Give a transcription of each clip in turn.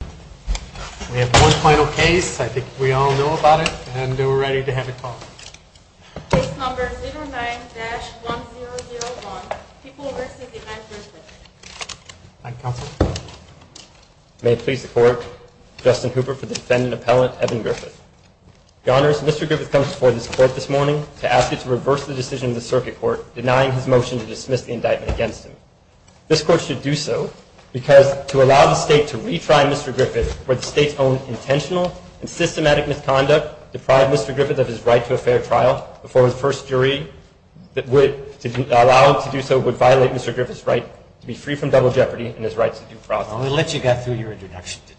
We have one final case. I think we all know about it, and we're ready to have it called. Case number 09-1001, People vs. the 9th District. Thank you, Counsel. May it please the Court, Justin Hooper for the defendant, Appellant Evan Griffith. Your Honors, Mr. Griffith comes before this Court this morning to ask you to reverse the decision of the Circuit Court denying his motion to dismiss the indictment against him. This Court should do so because to allow the State to retry Mr. Griffith for the State's own intentional and systematic misconduct to deprive Mr. Griffith of his right to a fair trial before his first jury that would allow him to do so would violate Mr. Griffith's right to be free from double jeopardy and his right to due process. Well, we let you get through your introduction, didn't we?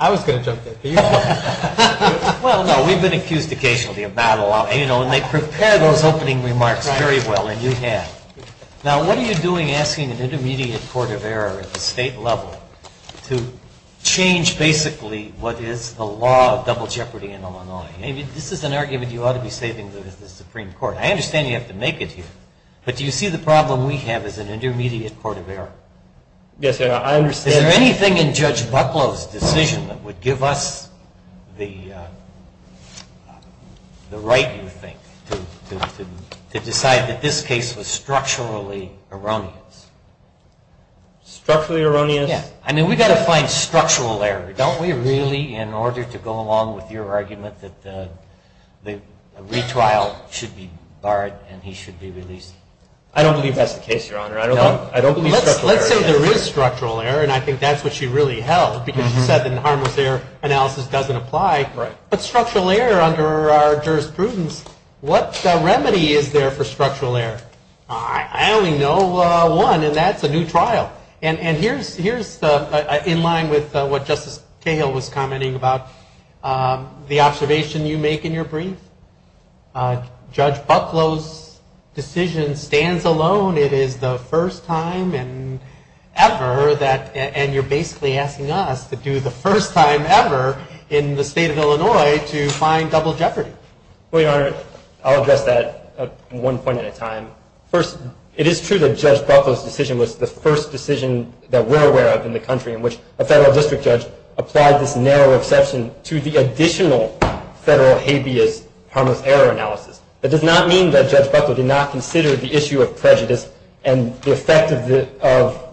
I was going to jump in. Well, no, we've been accused occasionally of not allowing, you know, and they prepare those opening remarks very well, and you have. Now, what are you doing asking an intermediate court of error at the State level to change, basically, what is the law of double jeopardy in Illinois? I mean, this is an argument you ought to be saving with the Supreme Court. I understand you have to make it here, but do you see the problem we have as an intermediate court of error? Yes, I understand. Is there anything in Judge Bucklow's decision that would give us the right, you think, to decide that this case was structurally erroneous? Structurally erroneous? Yes. I mean, we've got to find structural error, don't we, really, in order to go along with your argument that the retrial should be barred and he should be released? I don't believe that's the case, Your Honor. No? I don't believe structural error. And I think that's what she really held, because she said that harmless error analysis doesn't apply. But structural error under our jurisprudence, what remedy is there for structural error? I only know one, and that's a new trial. And here's in line with what Justice Cahill was commenting about, the observation you make in your brief. Judge Bucklow's decision stands alone. It is the first time ever, and you're basically asking us to do the first time ever in the state of Illinois to find double jeopardy. Well, Your Honor, I'll address that one point at a time. First, it is true that Judge Bucklow's decision was the first decision that we're aware of in the country in which a federal district judge applied this narrow exception to the additional federal habeas harmless error analysis. That does not mean that Judge Bucklow did not consider the issue of prejudice and the effect of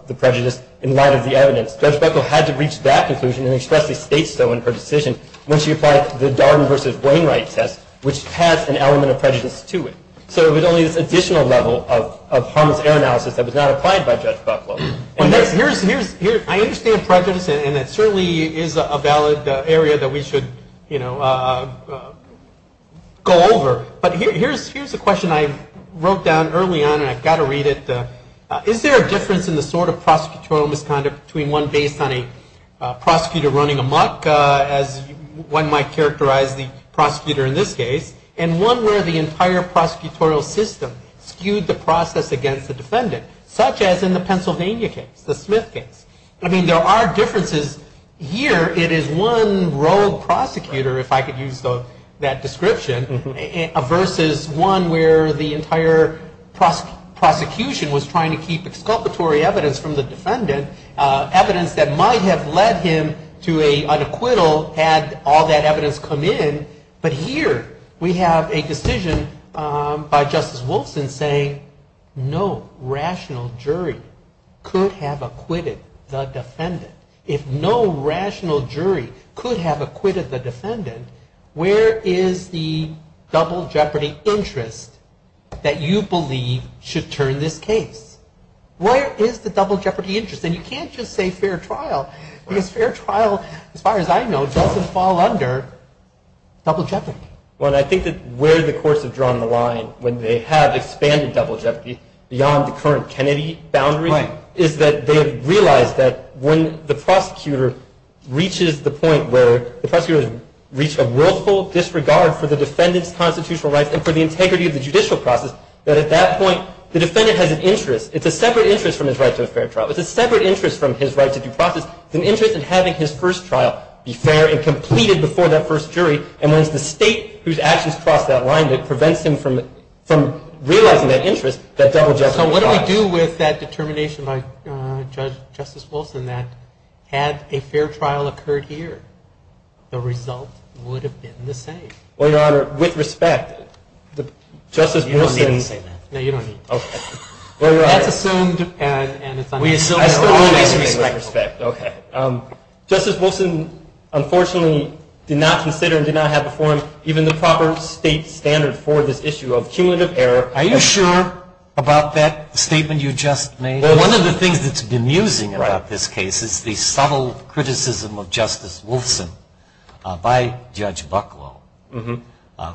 the prejudice in light of the evidence. Judge Bucklow had to reach that conclusion and expressly state so in her decision when she applied the Darden v. Wainwright test, which has an element of prejudice to it. So it was only this additional level of harmless error analysis that was not applied by Judge Bucklow. I understand prejudice, and it certainly is a valid area that we should, you know, go over. But here's a question I wrote down early on, and I've got to read it. Is there a difference in the sort of prosecutorial misconduct between one based on a prosecutor running amok, as one might characterize the prosecutor in this case, and one where the entire prosecutorial system skewed the process against the defendant, such as in the Pennsylvania case, the Smith case? I mean, there are differences. Here it is one rogue prosecutor, if I could use that description, versus one where the entire prosecution was trying to keep exculpatory evidence from the defendant, evidence that might have led him to an acquittal had all that evidence come in. But here we have a decision by Justice Wolfson saying no rational jury could have acquitted the defendant. If no rational jury could have acquitted the defendant, where is the double jeopardy interest that you believe should turn this case? Where is the double jeopardy interest? And you can't just say fair trial, because fair trial, as far as I know, doesn't fall under double jeopardy. Well, and I think that where the courts have drawn the line when they have expanded double jeopardy beyond the current Kennedy boundary, is that they have realized that when the prosecutor reaches the point where the prosecutor has reached a willful disregard for the defendant's constitutional rights and for the integrity of the judicial process, that at that point the defendant has an interest. It's a separate interest from his right to a fair trial. It's a separate interest from his right to due process. It's an interest in having his first trial be fair and completed before that first jury. And when it's the state whose actions cross that line that prevents him from realizing that interest, that double jeopardy process. So what do we do with that determination by Justice Wolfson that had a fair trial occurred here, the result would have been the same? Well, Your Honor, with respect, Justice Wolfson's- You don't need to say that. No, you don't need to. Okay. Well, Your Honor- That's assumed and it's- We assume- I still don't want to use respect. Okay. Justice Wolfson, unfortunately, did not consider and did not have before him even the proper state standard for this issue of cumulative error. Are you sure about that statement you just made? Well, one of the things that's bemusing about this case is the subtle criticism of Justice Wolfson by Judge Bucklow.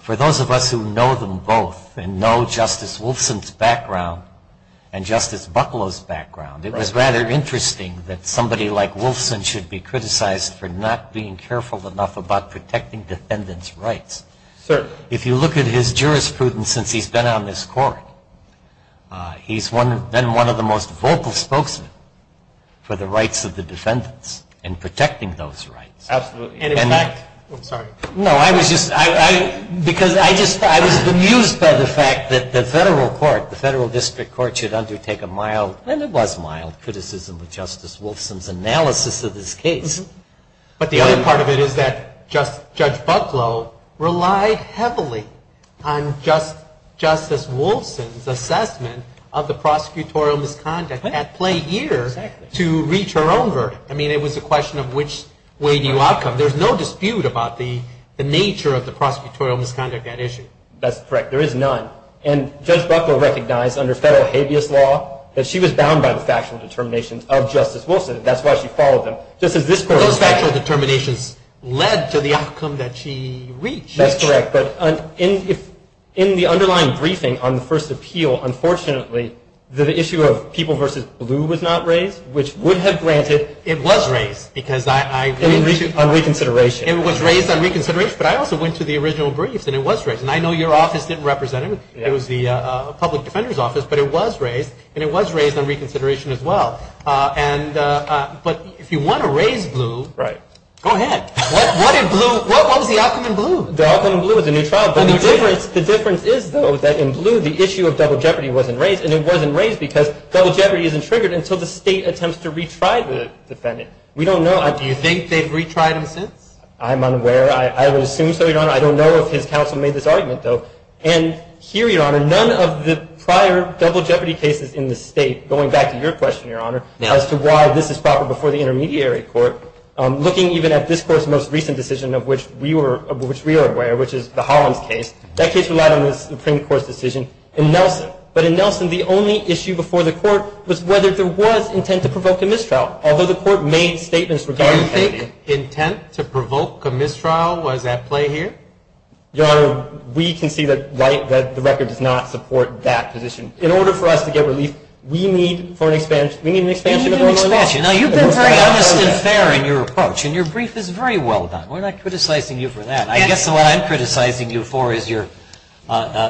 For those of us who know them both and know Justice Wolfson's background and Justice Bucklow's background, it was rather interesting that somebody like Wolfson should be criticized for not being careful enough about protecting defendants' rights. Certainly. If you look at his jurisprudence since he's been on this court, he's been one of the most vocal spokesmen for the rights of the defendants and protecting those rights. Absolutely. And in fact- I'm sorry. No, I was just- because I was bemused by the fact that the federal court, the federal district court, should undertake a mild- and it was mild- criticism of Justice Wolfson's analysis of this case. But the other part of it is that Judge Bucklow relied heavily on Justice Wolfson's assessment of the prosecutorial misconduct at play here to reach her own verdict. I mean, it was a question of which way do you outcome. There's no dispute about the nature of the prosecutorial misconduct at issue. That's correct. There is none. And Judge Bucklow recognized under federal habeas law that she was bound by the factual determinations of Justice Wolfson. That's why she followed them. Those factual determinations led to the outcome that she reached. That's correct. But in the underlying briefing on the first appeal, unfortunately, the issue of people versus blue was not raised, which would have granted- It was raised because I- On reconsideration. It was raised on reconsideration. But I also went to the original briefs, and it was raised. And I know your office didn't represent it. It was the public defender's office, but it was raised, and it was raised on reconsideration as well. And- but if you want to raise blue- Right. Go ahead. What did blue- what was the outcome in blue? The outcome in blue was a new trial. But the difference is, though, that in blue, the issue of double jeopardy wasn't raised, and it wasn't raised because double jeopardy isn't triggered until the state attempts to retry the defendant. We don't know- Do you think they've retried him since? I'm unaware. I would assume so, Your Honor. I don't know if his counsel made this argument, though. And here, Your Honor, none of the prior double jeopardy cases in the state, going back to your question, Your Honor, as to why this is proper before the intermediary court, looking even at this Court's most recent decision of which we were- of which we are aware, which is the Hollins case, that case relied on the Supreme Court's decision in Nelson. But in Nelson, the only issue before the Court was whether there was intent to provoke a mistrial, although the Court made statements regarding- Do you think intent to provoke a mistrial was at play here? Your Honor, we concede that the record does not support that position. In order for us to get relief, we need for an expansion-we need an expansion of our- You need an expansion. Now, you've been very honest and fair in your approach, and your brief is very well done. We're not criticizing you for that. I guess what I'm criticizing you for is your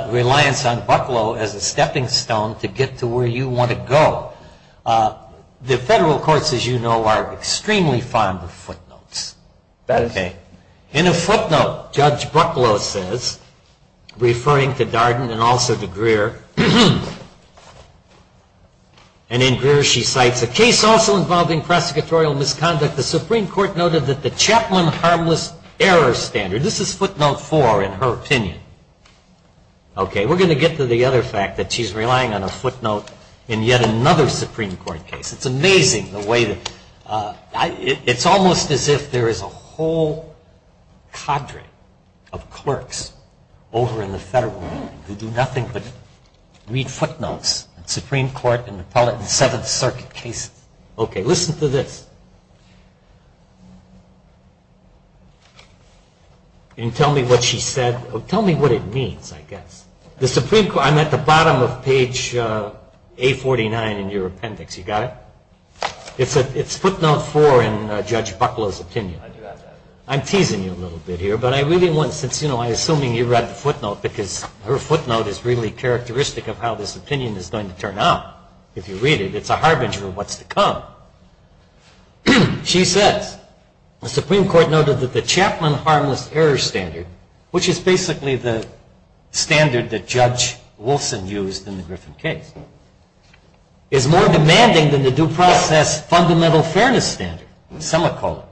reliance on Bucklow as a stepping stone to get to where you want to go. The federal courts, as you know, are extremely fond of footnotes. That is true. In a footnote, Judge Bucklow says, referring to Darden and also to Greer, and in Greer she cites, A case also involving prosecutorial misconduct, the Supreme Court noted that the Chapman harmless error standard- This is footnote four, in her opinion. Okay, we're going to get to the other fact that she's relying on a footnote in yet another Supreme Court case. It's amazing the way that- It's almost as if there is a whole cadre of clerks over in the federal government who do nothing but read footnotes in Supreme Court and appellate and Seventh Circuit cases. Okay, listen to this. Can you tell me what she said? Tell me what it means, I guess. The Supreme Court- I'm at the bottom of page A49 in your appendix. You got it? It's footnote four in Judge Bucklow's opinion. I'm teasing you a little bit here, but I really want- since, you know, I'm assuming you read the footnote, because her footnote is really characteristic of how this opinion is going to turn out. If you read it, it's a harbinger of what's to come. She says, the Supreme Court noted that the Chapman Harmless Error Standard, which is basically the standard that Judge Wilson used in the Griffin case, is more demanding than the Due Process Fundamental Fairness Standard, a semicolon.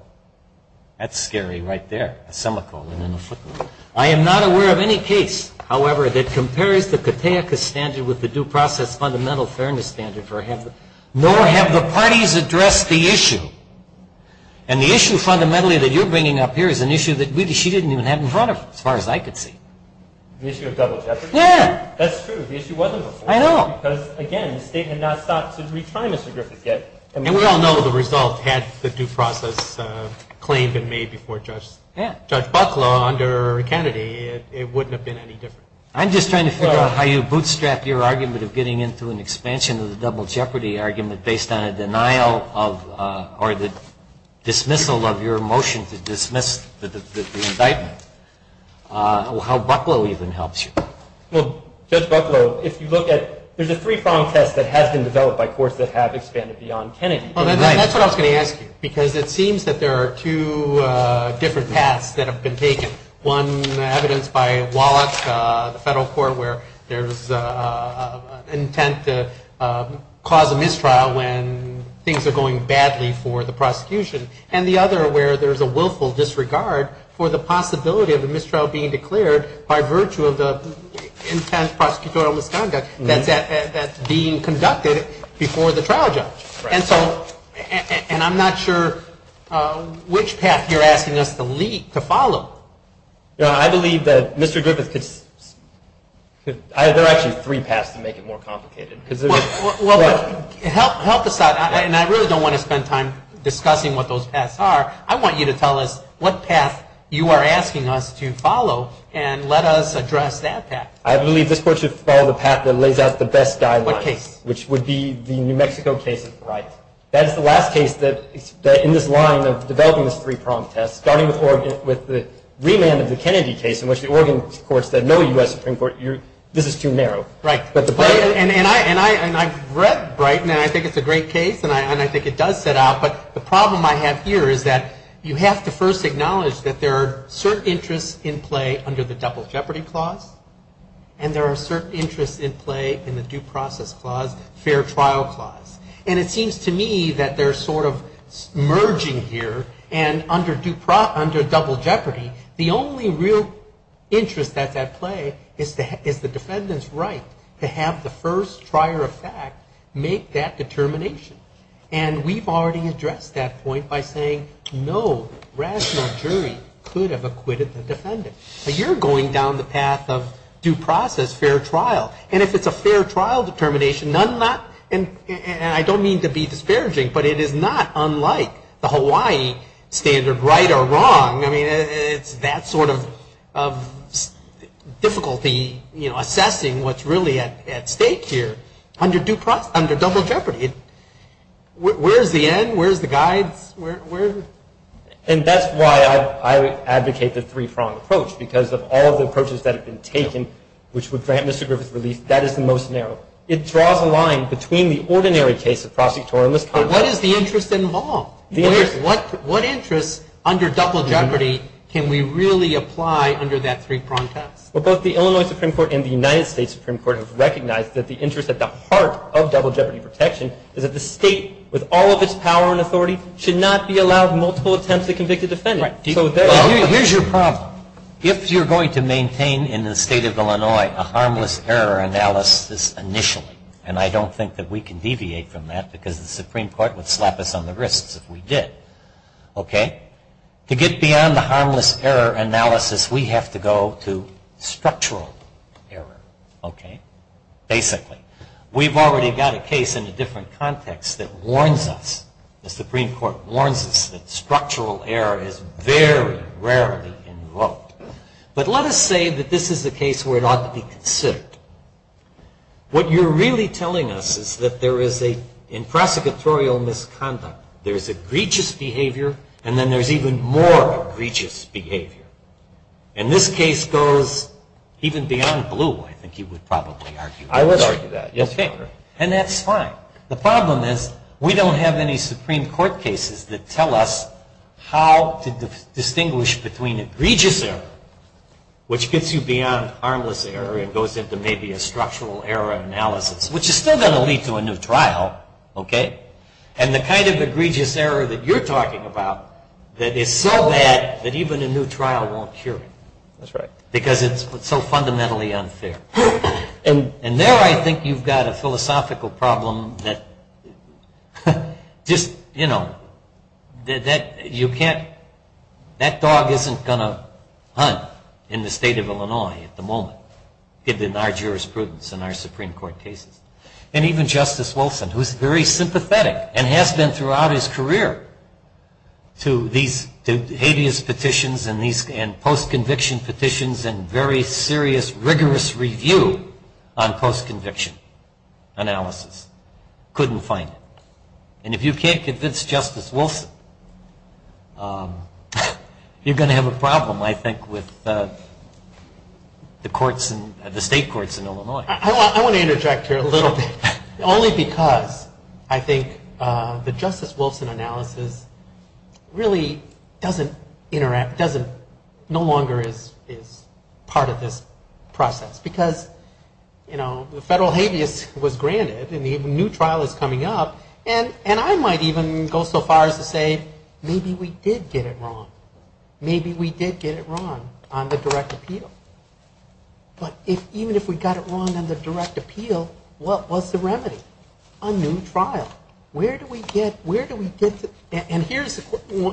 That's scary right there, a semicolon and a footnote. I am not aware of any case, however, that compares the Kataika Standard with the Due Process Fundamental Fairness Standard, nor have the parties addressed the issue. And the issue, fundamentally, that you're bringing up here is an issue that she didn't even have in front of her, as far as I could see. The issue of double jeopardy? Yeah. That's true. The issue wasn't before. I know. Because, again, the state had not stopped to retry Mr. Griffin yet. And we all know the result had the due process claim been made before Judge Bucklow under Kennedy, it wouldn't have been any different. I'm just trying to figure out how you bootstrap your argument of getting into an expansion of the double jeopardy argument based on a denial of or the dismissal of your motion to dismiss the indictment. How Bucklow even helps you. Well, Judge Bucklow, if you look at, there's a three-prong test that has been developed by courts that have expanded beyond Kennedy. That's what I was going to ask you. Because it seems that there are two different paths that have been taken. One, evidence by Wallach, the federal court, where there's intent to cause a mistrial when things are going badly for the prosecution. And the other where there's a willful disregard for the possibility of a mistrial being declared by virtue of the intent prosecutorial misconduct that's being conducted before the trial judge. And so, and I'm not sure which path you're asking us to lead, to follow. I believe that Mr. Griffith could, there are actually three paths to make it more complicated. Well, help us out, and I really don't want to spend time discussing what those paths are. I want you to tell us what path you are asking us to follow and let us address that path. I believe this court should follow the path that lays out the best guidelines. What case? Which would be the New Mexico case of Brighton. That is the last case in this line of developing this three-pronged test, starting with the remand of the Kennedy case in which the Oregon courts said, no U.S. Supreme Court, this is too narrow. Right. And I've read Brighton, and I think it's a great case, and I think it does set out. But the problem I have here is that you have to first acknowledge that there are certain interests in play under the double jeopardy clause, and there are certain interests in play in the due process clause, fair trial clause. And it seems to me that they're sort of merging here, and under double jeopardy, the only real interest at play is the defendant's right to have the first trier of fact make that determination. And we've already addressed that point by saying no rational jury could have acquitted the defendant. But you're going down the path of due process, fair trial. And if it's a fair trial determination, and I don't mean to be disparaging, but it is not unlike the Hawaii standard right or wrong. I mean, it's that sort of difficulty assessing what's really at stake here under double jeopardy. Where's the end? Where's the guides? And that's why I advocate the three-pronged approach, because of all the approaches that have been taken, which would grant Mr. Griffith relief, that is the most narrow. It draws a line between the ordinary case of prosecutorial misconduct. But what is the interest involved? What interest under double jeopardy can we really apply under that three-pronged test? Well, both the Illinois Supreme Court and the United States Supreme Court have recognized that the interest at the heart of double jeopardy protection is that the state, with all of its power and authority, should not be allowed multiple attempts to convict a defendant. Here's your problem. If you're going to maintain in the state of Illinois a harmless error analysis initially, and I don't think that we can deviate from that because the Supreme Court would slap us on the wrists if we did. To get beyond the harmless error analysis, we have to go to structural error, basically. We've already got a case in a different context that warns us. The Supreme Court warns us that structural error is very rarely invoked. But let us say that this is a case where it ought to be considered. What you're really telling us is that in prosecutorial misconduct, there's egregious behavior, and then there's even more egregious behavior. And this case goes even beyond blue, I think you would probably argue. I would argue that, yes, Your Honor. And that's fine. The problem is we don't have any Supreme Court cases that tell us how to distinguish between egregious error, which gets you beyond harmless error and goes into maybe a structural error analysis, which is still going to lead to a new trial, and the kind of egregious error that you're talking about that is so bad that even a new trial won't cure it because it's so fundamentally unfair. And there I think you've got a philosophical problem that just, you know, that you can't, that dog isn't going to hunt in the state of Illinois at the moment, given our jurisprudence and our Supreme Court cases. And even Justice Wilson, who's very sympathetic and has been throughout his career to these hideous petitions and post-conviction petitions and very serious, rigorous review on post-conviction analysis, couldn't find it. And if you can't convince Justice Wilson, you're going to have a problem, I think, with the courts, I want to interject here a little bit, only because I think the Justice Wilson analysis really doesn't interact, doesn't, no longer is part of this process, because, you know, the federal habeas was granted and the new trial is coming up, and I might even go so far as to say maybe we did get it wrong. Maybe we did get it wrong on the direct appeal. But even if we got it wrong on the direct appeal, what was the remedy? A new trial. Where do we get, where do we get the, and here's,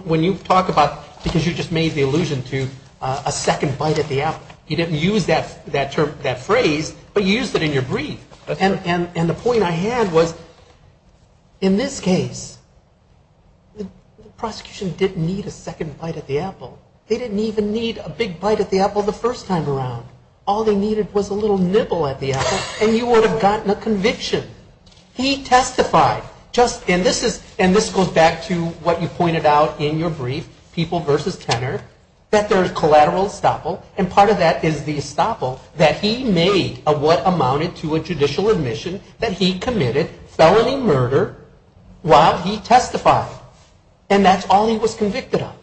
when you talk about, because you just made the allusion to a second bite at the apple. You didn't use that term, that phrase, but you used it in your brief. And the point I had was, in this case, the prosecution didn't need a second bite at the apple. They didn't even need a big bite at the apple the first time around. All they needed was a little nibble at the apple and you would have gotten a conviction. He testified, just, and this is, and this goes back to what you pointed out in your brief, people versus tenor, that there's collateral estoppel, and part of that is the estoppel that he made of what amounted to a judicial admission that he committed felony murder while he testified. And that's all he was convicted of.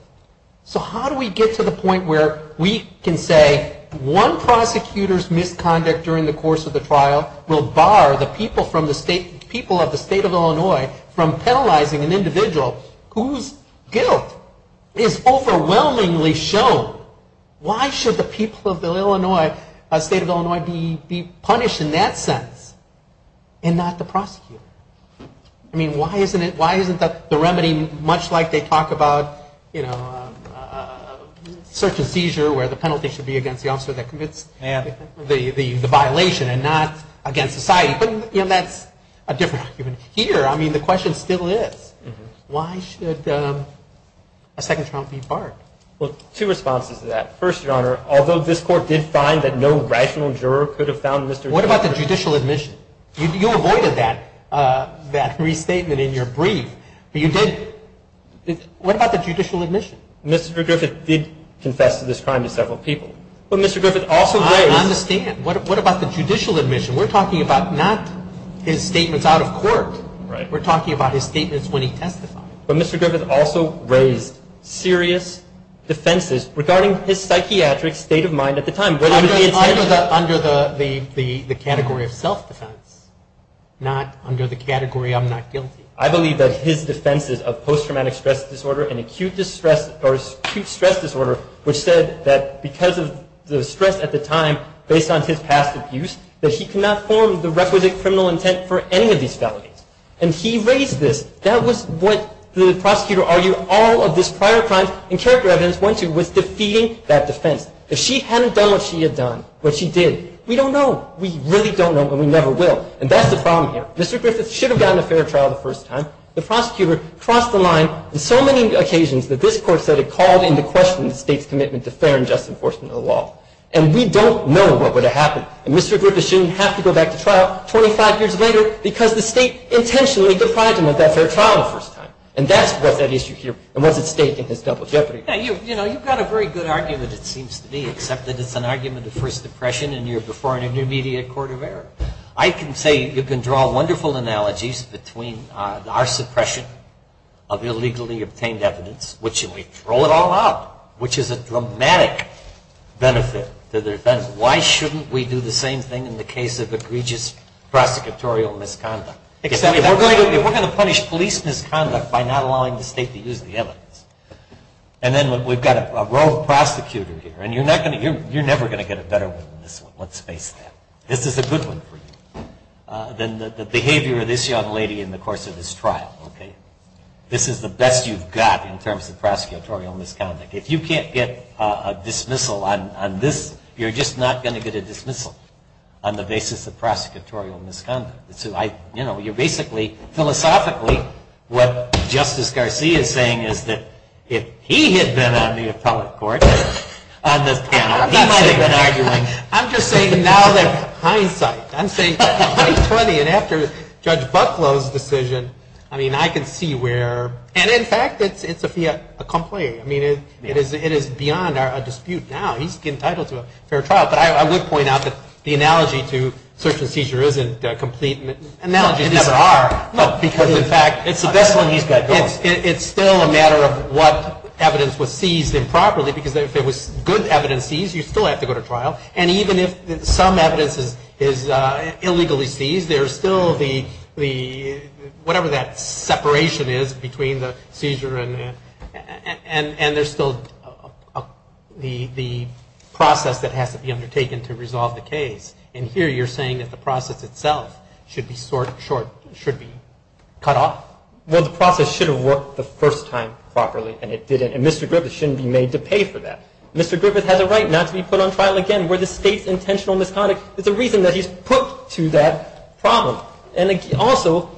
So how do we get to the point where we can say one prosecutor's misconduct during the course of the trial will bar the people from the state, people of the state of Illinois from penalizing an individual whose guilt is overwhelmingly shown? Why should the people of the Illinois, state of Illinois, be punished in that sense and not the prosecutor? I mean, why isn't it, why isn't the remedy much like they talk about, you know, search and seizure where the penalty should be against the officer that commits the violation and not against society? But, you know, that's a different argument. Here, I mean, the question still is, why should a second trial be barred? Well, two responses to that. First, Your Honor, although this Court did find that no rational juror could have found Mr. What about the judicial admission? You avoided that restatement in your brief, but you did. What about the judicial admission? Mr. Griffith did confess to this crime to several people. But Mr. Griffith also raised I understand. What about the judicial admission? We're talking about not his statements out of court. Right. We're talking about his statements when he testified. But Mr. Griffith also raised serious defenses regarding his psychiatric state of mind at the time. Under the category of self-defense, not under the category of I'm not guilty. I believe that his defense is of post-traumatic stress disorder and acute stress disorder, which said that because of the stress at the time, based on his past abuse, that he could not form the requisite criminal intent for any of these felonies. And he raised this. That was what the prosecutor argued all of his prior crimes and character evidence went to was defeating that defense. If she hadn't done what she had done, what she did, we don't know. We really don't know and we never will. And that's the problem here. Mr. Griffith should have gotten a fair trial the first time. The prosecutor crossed the line on so many occasions that this court said it called into question the state's commitment to fair and just enforcement of the law. And we don't know what would have happened. And Mr. Griffith shouldn't have to go back to trial 25 years later because the state intentionally deprived him of that fair trial the first time. And that's what's at issue here and what's at stake in his double jeopardy. You've got a very good argument, it seems to me, except that it's an argument of First Depression and you're before an intermediate court of error. I can say you can draw wonderful analogies between our suppression of illegally obtained evidence, which we throw it all out, which is a dramatic benefit to the defense. Why shouldn't we do the same thing in the case of egregious prosecutorial misconduct? We're going to punish police misconduct by not allowing the state to use the evidence. And then we've got a rogue prosecutor here and you're never going to get a better one than this one. Let's face that. This is a good one for you. Then the behavior of this young lady in the course of this trial. This is the best you've got in terms of prosecutorial misconduct. If you can't get a dismissal on this, you're just not going to get a dismissal on the basis of prosecutorial misconduct. You're basically, philosophically, what Justice Garcia is saying is that if he had been on the appellate court on this panel, he might have been arguing. I'm just saying now that hindsight. I'm saying 2020 and after Judge Buffalo's decision, I can see where. And in fact, it's a complaint. It is beyond our dispute now. He's entitled to a fair trial. But I would point out that the analogy to search and seizure isn't complete. It never are. Because in fact, it's still a matter of what evidence was seized improperly. Because if it was good evidence seized, you still have to go to trial. And even if some evidence is illegally seized, there's still the whatever that separation is between the seizure and there's still the process that has to be undertaken to resolve the case. And here you're saying that the process itself should be cut off? Well, the process should have worked the first time properly, and it didn't. And Mr. Griffith shouldn't be made to pay for that. Mr. Griffith has a right not to be put on trial again. We're the state's intentional misconduct. It's the reason that he's put to that problem. And also,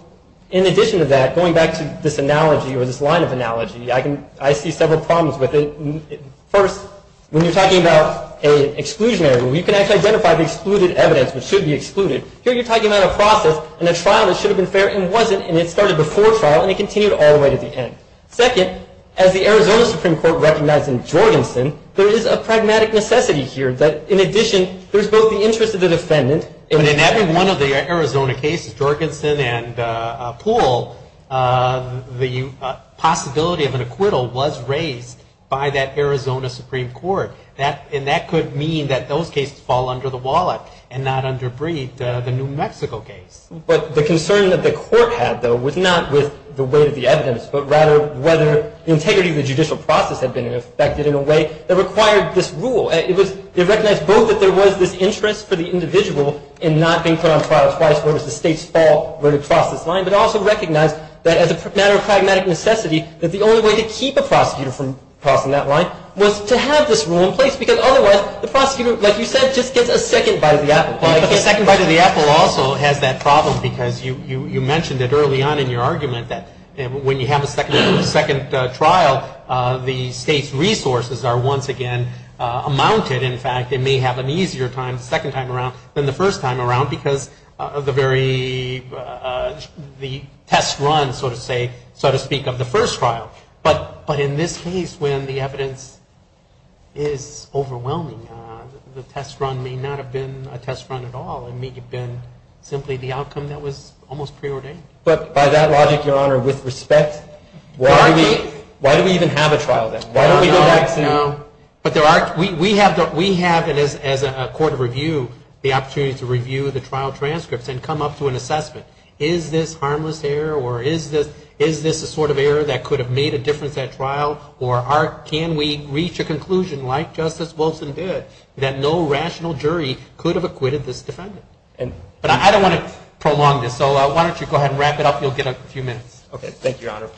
in addition to that, going back to this analogy or this line of analogy, I see several problems with it. First, when you're talking about an exclusionary rule, you can actually identify the excluded evidence, which should be excluded. Here you're talking about a process and a trial that should have been fair and wasn't, and it started before trial and it continued all the way to the end. Second, as the Arizona Supreme Court recognized in Jorgensen, there is a pragmatic necessity here that, in addition, there's both the interest of the defendant. And in every one of the Arizona cases, Jorgensen and Poole, the possibility of an acquittal was raised by that Arizona Supreme Court. And that could mean that those cases fall under the wallet and not underbreed the New Mexico case. But the concern that the court had, though, was not with the weight of the evidence, but rather whether the integrity of the judicial process had been affected in a way that required this rule. It recognized both that there was this interest for the individual in not being put on trial twice whereas the state's fault would have crossed this line, but also recognized that as a matter of pragmatic necessity, that the only way to keep a prosecutor from crossing that line was to have this rule in place, because otherwise the prosecutor, like you said, just gets a second bite of the apple. But the second bite of the apple also has that problem because you mentioned it early on in your argument that when you have a second trial, the state's resources are once again amounted. In fact, it may have an easier time the second time around than the first time around because of the very test run, so to speak, of the first trial. But in this case, when the evidence is overwhelming, the test run may not have been a test run at all. It may have been simply the outcome that was almost preordained. But by that logic, Your Honor, with respect, why do we even have a trial then? Why don't we do that? No, no. But we have, as a court of review, the opportunity to review the trial transcripts and come up to an assessment. Is this harmless error or is this a sort of error that could have made a difference at trial? Or can we reach a conclusion, like Justice Wilson did, that no rational jury could have acquitted this defendant? But I don't want to prolong this, so why don't you go ahead and wrap it up. You'll get a few minutes. Thank you, Your Honor.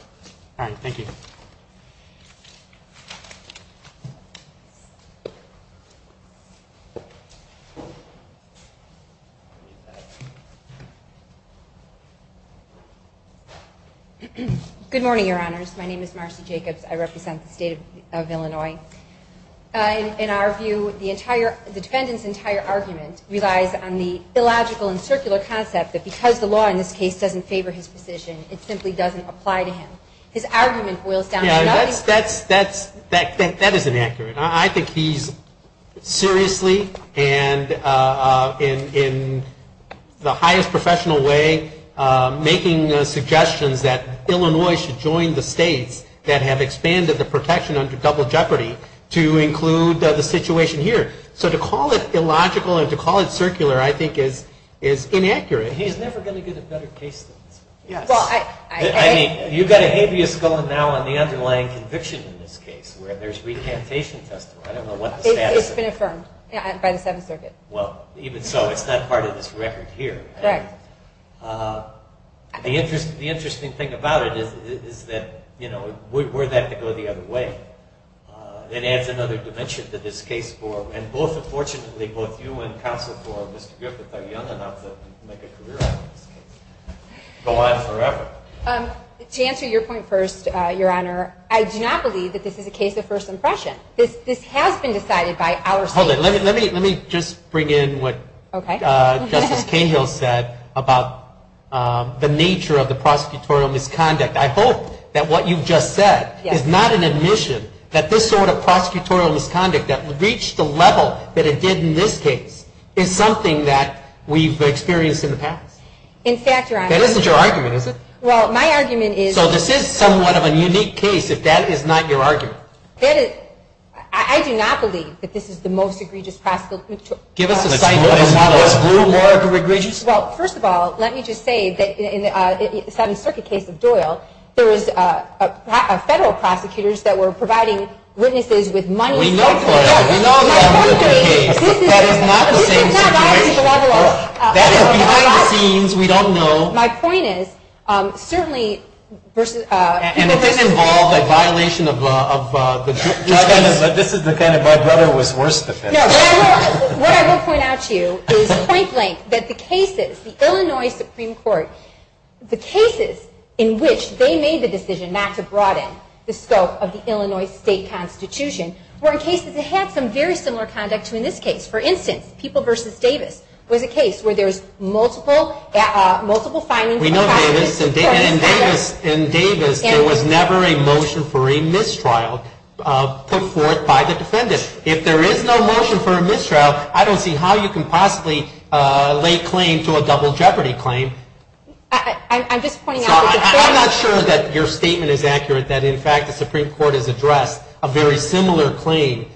All right. Thank you. Good morning, Your Honors. My name is Marcy Jacobs. I represent the State of Illinois. In our view, the defendant's entire argument relies on the illogical and circular concept that because the law in this case doesn't favor his position, it simply doesn't apply to him. His argument boils down to another. That is inaccurate. I think he's seriously and in the highest professional way making suggestions that Illinois should join the states that have expanded the protection under double jeopardy to include the situation here. So to call it illogical and to call it circular, I think, is inaccurate. He's never going to get a better case than this one. I mean, you've got a habeas going now on the underlying conviction in this case where there's recantation testimony. I don't know what the status is. It's been affirmed by the Seventh Circuit. Well, even so, it's not part of this record here. Correct. The interesting thing about it is that we're about to go the other way. It adds another dimension to this case. And both, unfortunately, both you and counsel for Mr. Griffith are young enough to make a career out of this case. Go on forever. To answer your point first, Your Honor, I do not believe that this is a case of first impression. This has been decided by our state. Hold it. Let me just bring in what Justice Cahill said about the nature of the prosecutorial misconduct. I hope that what you've just said is not an admission that this sort of prosecutorial misconduct that reached the level that it did in this case is something that we've experienced in the past. In fact, Your Honor. That isn't your argument, is it? Well, my argument is. So this is somewhat of a unique case if that is not your argument. I do not believe that this is the most egregious prosecutorial misconduct. Give us a site that is not as blue, more egregious. Well, first of all, let me just say that in the Seventh Circuit case of Doyle, there was federal prosecutors that were providing witnesses with money. We know that. We all know that. That is not the same situation. That is behind the scenes. We don't know. My point is, certainly. And it didn't involve a violation of the judges. This is the kind of, my brother was worse than this. No. What I will point out to you is point blank that the cases, the Illinois Supreme Court, the cases in which they made the decision not to broaden the scope of the Illinois state constitution were in cases that had some very similar conduct to in this case. For instance, People v. Davis was a case where there was multiple findings. We know Davis. In Davis, there was never a motion for a mistrial put forth by the defendant. If there is no motion for a mistrial, I don't see how you can possibly lay claim to a double jeopardy claim. I'm just pointing out. I'm not sure that your statement is accurate, that in fact the Supreme Court has addressed a very similar claim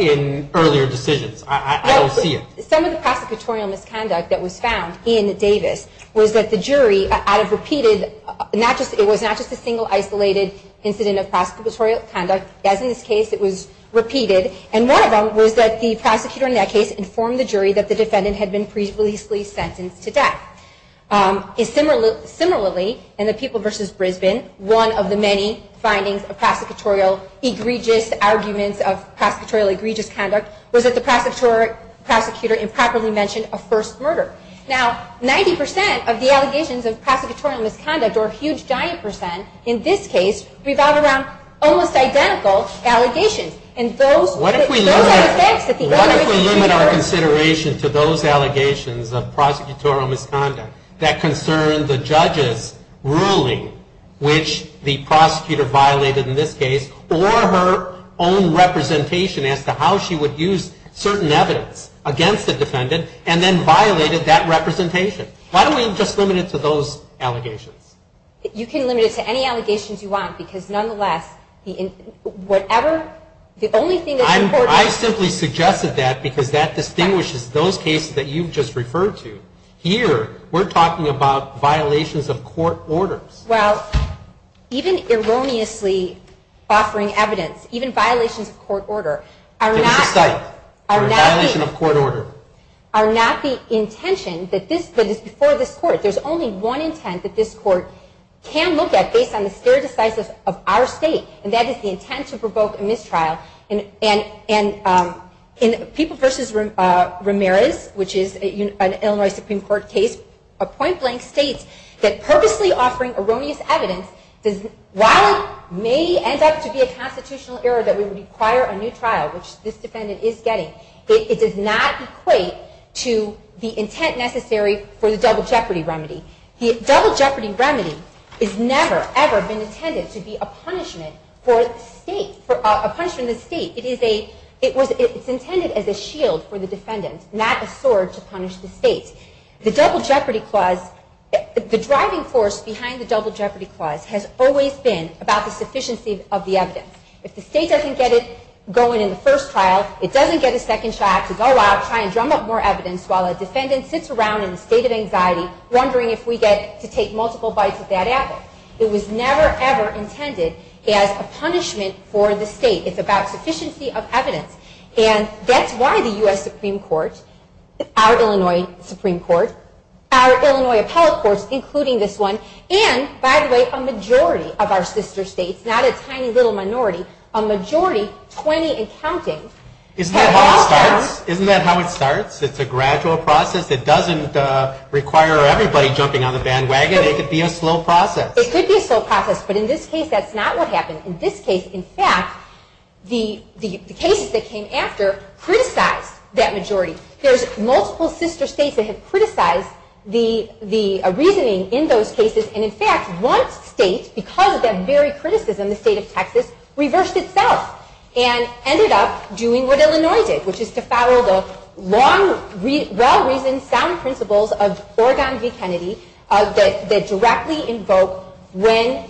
in earlier decisions. I don't see it. Some of the prosecutorial misconduct that was found in Davis was that the jury, out of repeated, it was not just a single isolated incident of prosecutorial conduct. As in this case, it was repeated. And one of them was that the prosecutor in that case informed the jury that the defendant had been previously sentenced to death. Similarly, in the People v. Brisbane, one of the many findings of prosecutorial egregious arguments of prosecutorial egregious conduct was that the prosecutor improperly mentioned a first murder. Now, 90% of the allegations of prosecutorial misconduct, or a huge giant percent in this case, revolve around almost identical allegations. What if we limit our consideration to those allegations of prosecutorial misconduct that concern the judge's ruling, which the prosecutor violated in this case, or her own representation as to how she would use certain evidence against the defendant and then violated that representation? Why don't we just limit it to those allegations? You can limit it to any allegations you want, because nonetheless, whatever, the only thing that's important... I simply suggested that because that distinguishes those cases that you've just referred to. Here, we're talking about violations of court orders. Well, even erroneously offering evidence, even violations of court order, are not... Give us a cite. Are not the... Or a violation of court order. ...are not the intention that this, that is before this court. There's only one intent that this court can look at based on the stare decisis of our state, and that is the intent to provoke a mistrial. And in People v. Ramirez, which is an Illinois Supreme Court case, a point blank states that purposely offering erroneous evidence, while it may end up to be a constitutional error that would require a new trial, which this defendant is getting, it does not equate to the intent necessary for the double jeopardy remedy. The double jeopardy remedy has never, ever been intended to be a punishment for the state, a punishment to the state. It is a... It's intended as a shield for the defendant, not a sword to punish the state. The double jeopardy clause, the driving force behind the double jeopardy clause has always been about the sufficiency of the evidence. If the state doesn't get it going in the first trial, it doesn't get a second shot to go out, try and drum up more evidence while a defendant sits around in a state of anxiety, wondering if we get to take multiple bites of that apple. It was never, ever intended as a punishment for the state. It's about sufficiency of evidence. And that's why the U.S. Supreme Court, our Illinois Supreme Court, our Illinois appellate courts, including this one, and, by the way, a majority of our sister states, not a tiny little minority, a majority, 20 and counting... Isn't that how it starts? Isn't that how it starts? It's a gradual process that doesn't require everybody jumping on the bandwagon. It could be a slow process. It could be a slow process, but in this case, that's not what happened. In this case, in fact, the cases that came after criticized that majority. There's multiple sister states that have criticized the reasoning in those cases, and, in fact, one state, because of that very criticism, the state of Texas, reversed itself and ended up doing what Illinois did, which is to follow the well-reasoned, sound principles of Oregon v. Kennedy that directly invoke when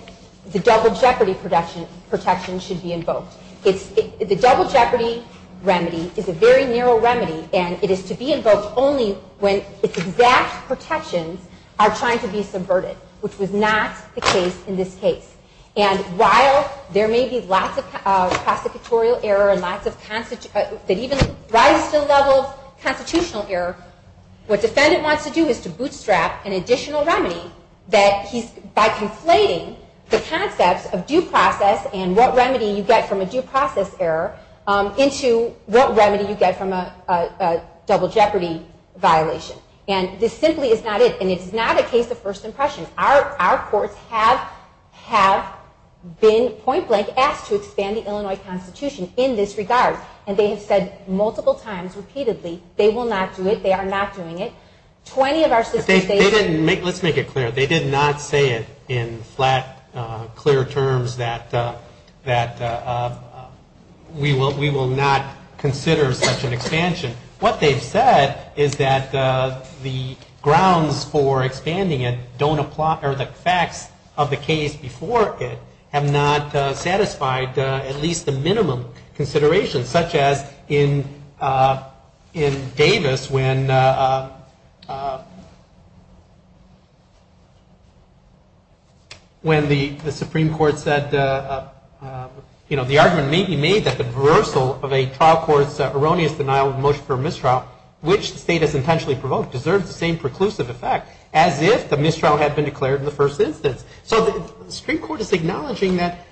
the double jeopardy protection should be invoked. The double jeopardy remedy is a very narrow remedy, and it is to be invoked only when its exact protections are trying to be subverted, which was not the case in this case. And while there may be lots of prosecutorial error and lots of... that even rise to the level of constitutional error, what defendant wants to do is to bootstrap an additional remedy that he's... by conflating the concepts of due process and what remedy you get from a due process error into what remedy you get from a double jeopardy violation. And this simply is not it, and it is not a case of first impression. Our courts have been point-blank asked to expand the Illinois Constitution in this regard, and they have said multiple times, repeatedly, they will not do it, they are not doing it. 20 of our systems... Let's make it clear. They did not say it in flat, clear terms that we will not consider such an expansion. What they've said is that the grounds for expanding it don't apply... or the facts of the case before it have not satisfied at least the minimum considerations, such as in Davis when the Supreme Court said... the argument may be made that the reversal of a trial court's erroneous denial of a motion for mistrial, which the state has intentionally provoked, deserves the same preclusive effect as if the mistrial had been declared in the first instance. So the Supreme Court is acknowledging that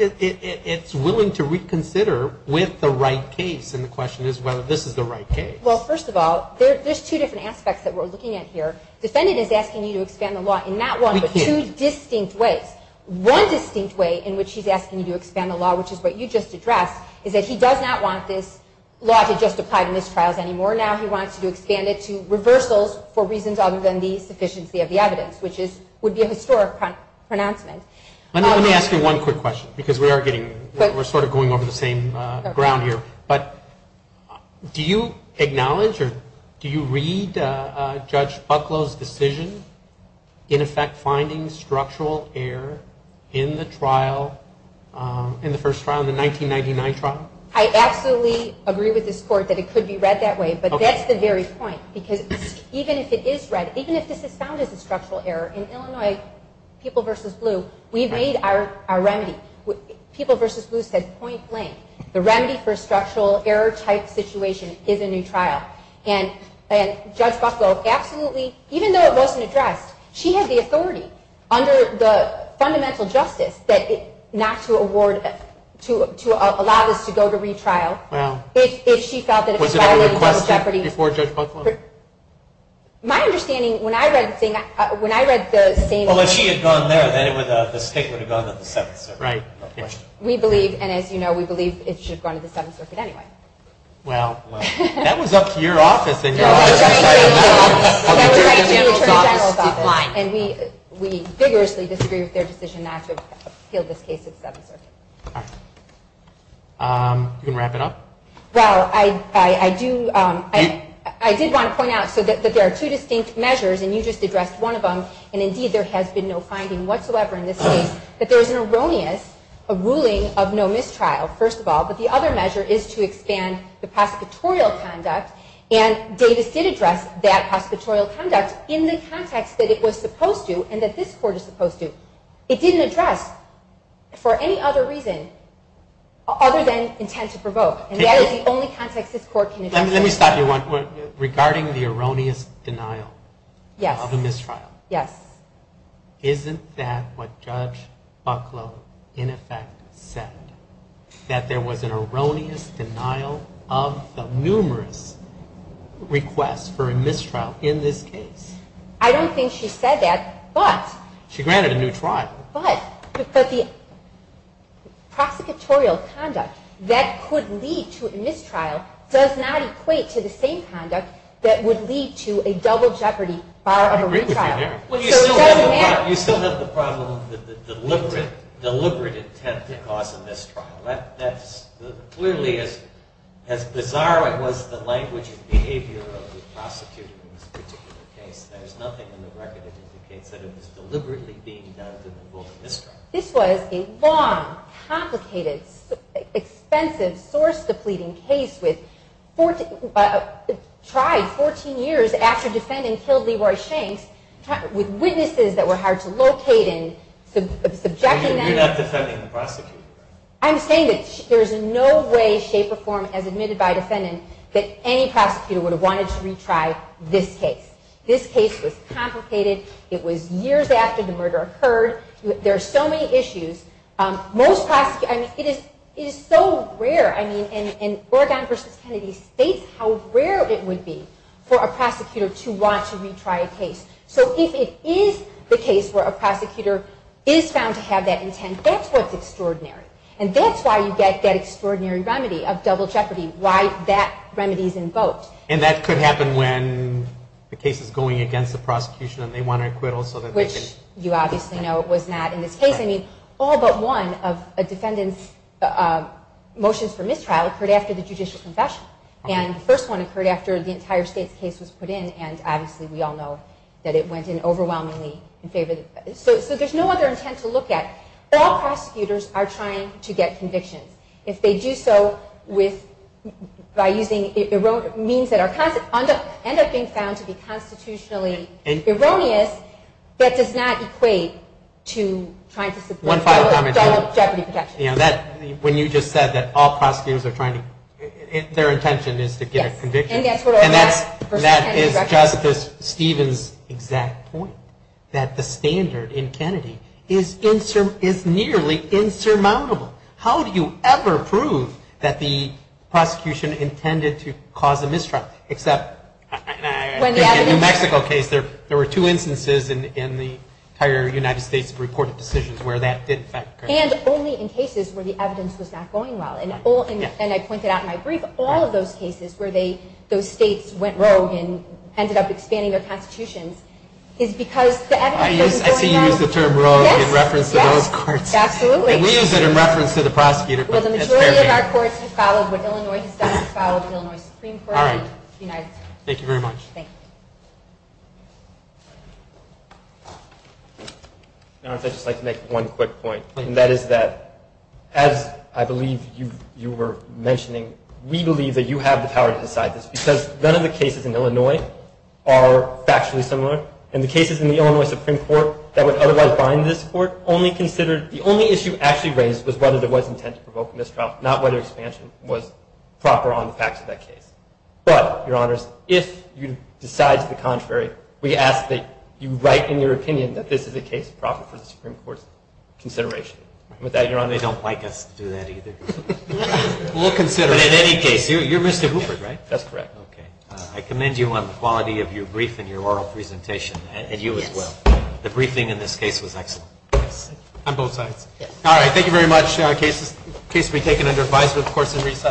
it's willing to reconsider with the right case, and the question is whether this is the right case. Well, first of all, there's two different aspects that we're looking at here. Defendant is asking you to expand the law in not one but two distinct ways. One distinct way in which he's asking you to expand the law, which is what you just addressed, is that he does not want this law to just apply to mistrials anymore. Now he wants you to expand it to reversals for reasons other than the sufficiency of the evidence, which would be a historic pronouncement. Let me ask you one quick question, because we are getting... we're sort of going over the same ground here. But do you acknowledge or do you read Judge Bucklow's decision in effect finding structural error in the first trial, the 1999 trial? I absolutely agree with this Court that it could be read that way, but that's the very point, because even if it is read, even if this is found as a structural error, in Illinois, People v. Blue, we've made our remedy. People v. Blue said point blank. The remedy for a structural error-type situation is a new trial. And Judge Bucklow absolutely, even though it wasn't addressed, she had the authority under the fundamental justice to allow this to go to retrial. Was it ever requested before Judge Bucklow? My understanding, when I read the same... Well, if she had gone there, then the state would have gone to the 7th Circuit. We believe, and as you know, we believe it should have gone to the 7th Circuit anyway. Well, that was up to your office. That was up to the Attorney General's office. And we vigorously disagree with their decision not to appeal this case to the 7th Circuit. All right. You going to wrap it up? Well, I did want to point out that there are two distinct measures, and you just addressed one of them, and indeed there has been no finding whatsoever in this case that there is an erroneous ruling of no mistrial, first of all, but the other measure is to expand the prosecutorial conduct, and Davis did address that prosecutorial conduct in the context that it was supposed to and that this Court is supposed to. It didn't address, for any other reason other than intent to provoke, and that is the only context this Court can address. Let me stop you, regarding the erroneous denial of a mistrial. Yes. Isn't that what Judge Bucklow, in effect, said, that there was an erroneous denial of the numerous requests for a mistrial in this case? I don't think she said that, but... She granted a new trial. But the prosecutorial conduct that could lead to a mistrial does not equate to the same conduct that would lead to a double jeopardy, bar a retrial. You still have the problem of the deliberate intent to cause a mistrial. Clearly, as bizarre as the language and behavior of the prosecutor in this particular case, there's nothing in the record that indicates that it was deliberately being done to provoke a mistrial. This was a long, complicated, expensive, source-depleting case tried 14 years after defendant killed Leroy Shanks, with witnesses that were hard to locate and subjecting them... You're not defending the prosecutor. I'm saying that there's no way, shape, or form, as admitted by defendant, that any prosecutor would have wanted to retry this case. This case was complicated. It was years after the murder occurred. There are so many issues. It is so rare. Oregon v. Kennedy states how rare it would be for a prosecutor to want to retry a case. So if it is the case where a prosecutor is found to have that intent, that's what's extraordinary. And that's why you get that extraordinary remedy of double jeopardy, why that remedy is invoked. And that could happen when the case is going against the prosecution and they want an acquittal so that they can... Which you obviously know was not in this case. I mean, all but one of a defendant's motions for mistrial occurred after the judicial confession. And the first one occurred after the entire state's case was put in, and obviously we all know that it went in overwhelmingly in favor... So there's no other intent to look at. All prosecutors are trying to get convictions. If they do so by using erroneous means that end up being found to be constitutionally erroneous, that does not equate to trying to support double jeopardy protection. When you just said that all prosecutors are trying to... Their intention is to get a conviction. And that is Justice Stevens' exact point, that the standard in Kennedy is nearly insurmountable. How do you ever prove that the prosecution intended to cause a mistrial? Except in the New Mexico case, there were two instances in the entire United States of reported decisions where that did occur. And only in cases where the evidence was not going well. And I pointed out in my brief, all of those cases where those states went rogue and ended up expanding their constitutions is because the evidence wasn't going well. I see you use the term rogue in reference to those courts. Absolutely. We use it in reference to the prosecutor. Well, the majority of our courts have followed what Illinois has done. We've followed the Illinois Supreme Court. All right. Thank you very much. Thank you. And I'd just like to make one quick point. And that is that, as I believe you were mentioning, we believe that you have the power to decide this. Because none of the cases in Illinois are factually similar. And the cases in the Illinois Supreme Court that would otherwise bind this court only considered the only issue actually raised was whether there was intent to provoke mistrial, not whether expansion was proper on the facts of that case. But, Your Honors, if you decide to the contrary, we ask that you write in your opinion that this is a case proper for the Supreme Court's consideration. And with that, Your Honors. They don't like us to do that either. We'll consider it. But in any case, you're Mr. Hoover, right? That's correct. Okay. I commend you on the quality of your brief and your oral presentation, and you as well. The briefing in this case was excellent. On both sides. All right. Thank you very much. The case will be taken under advisement, of course, in recess.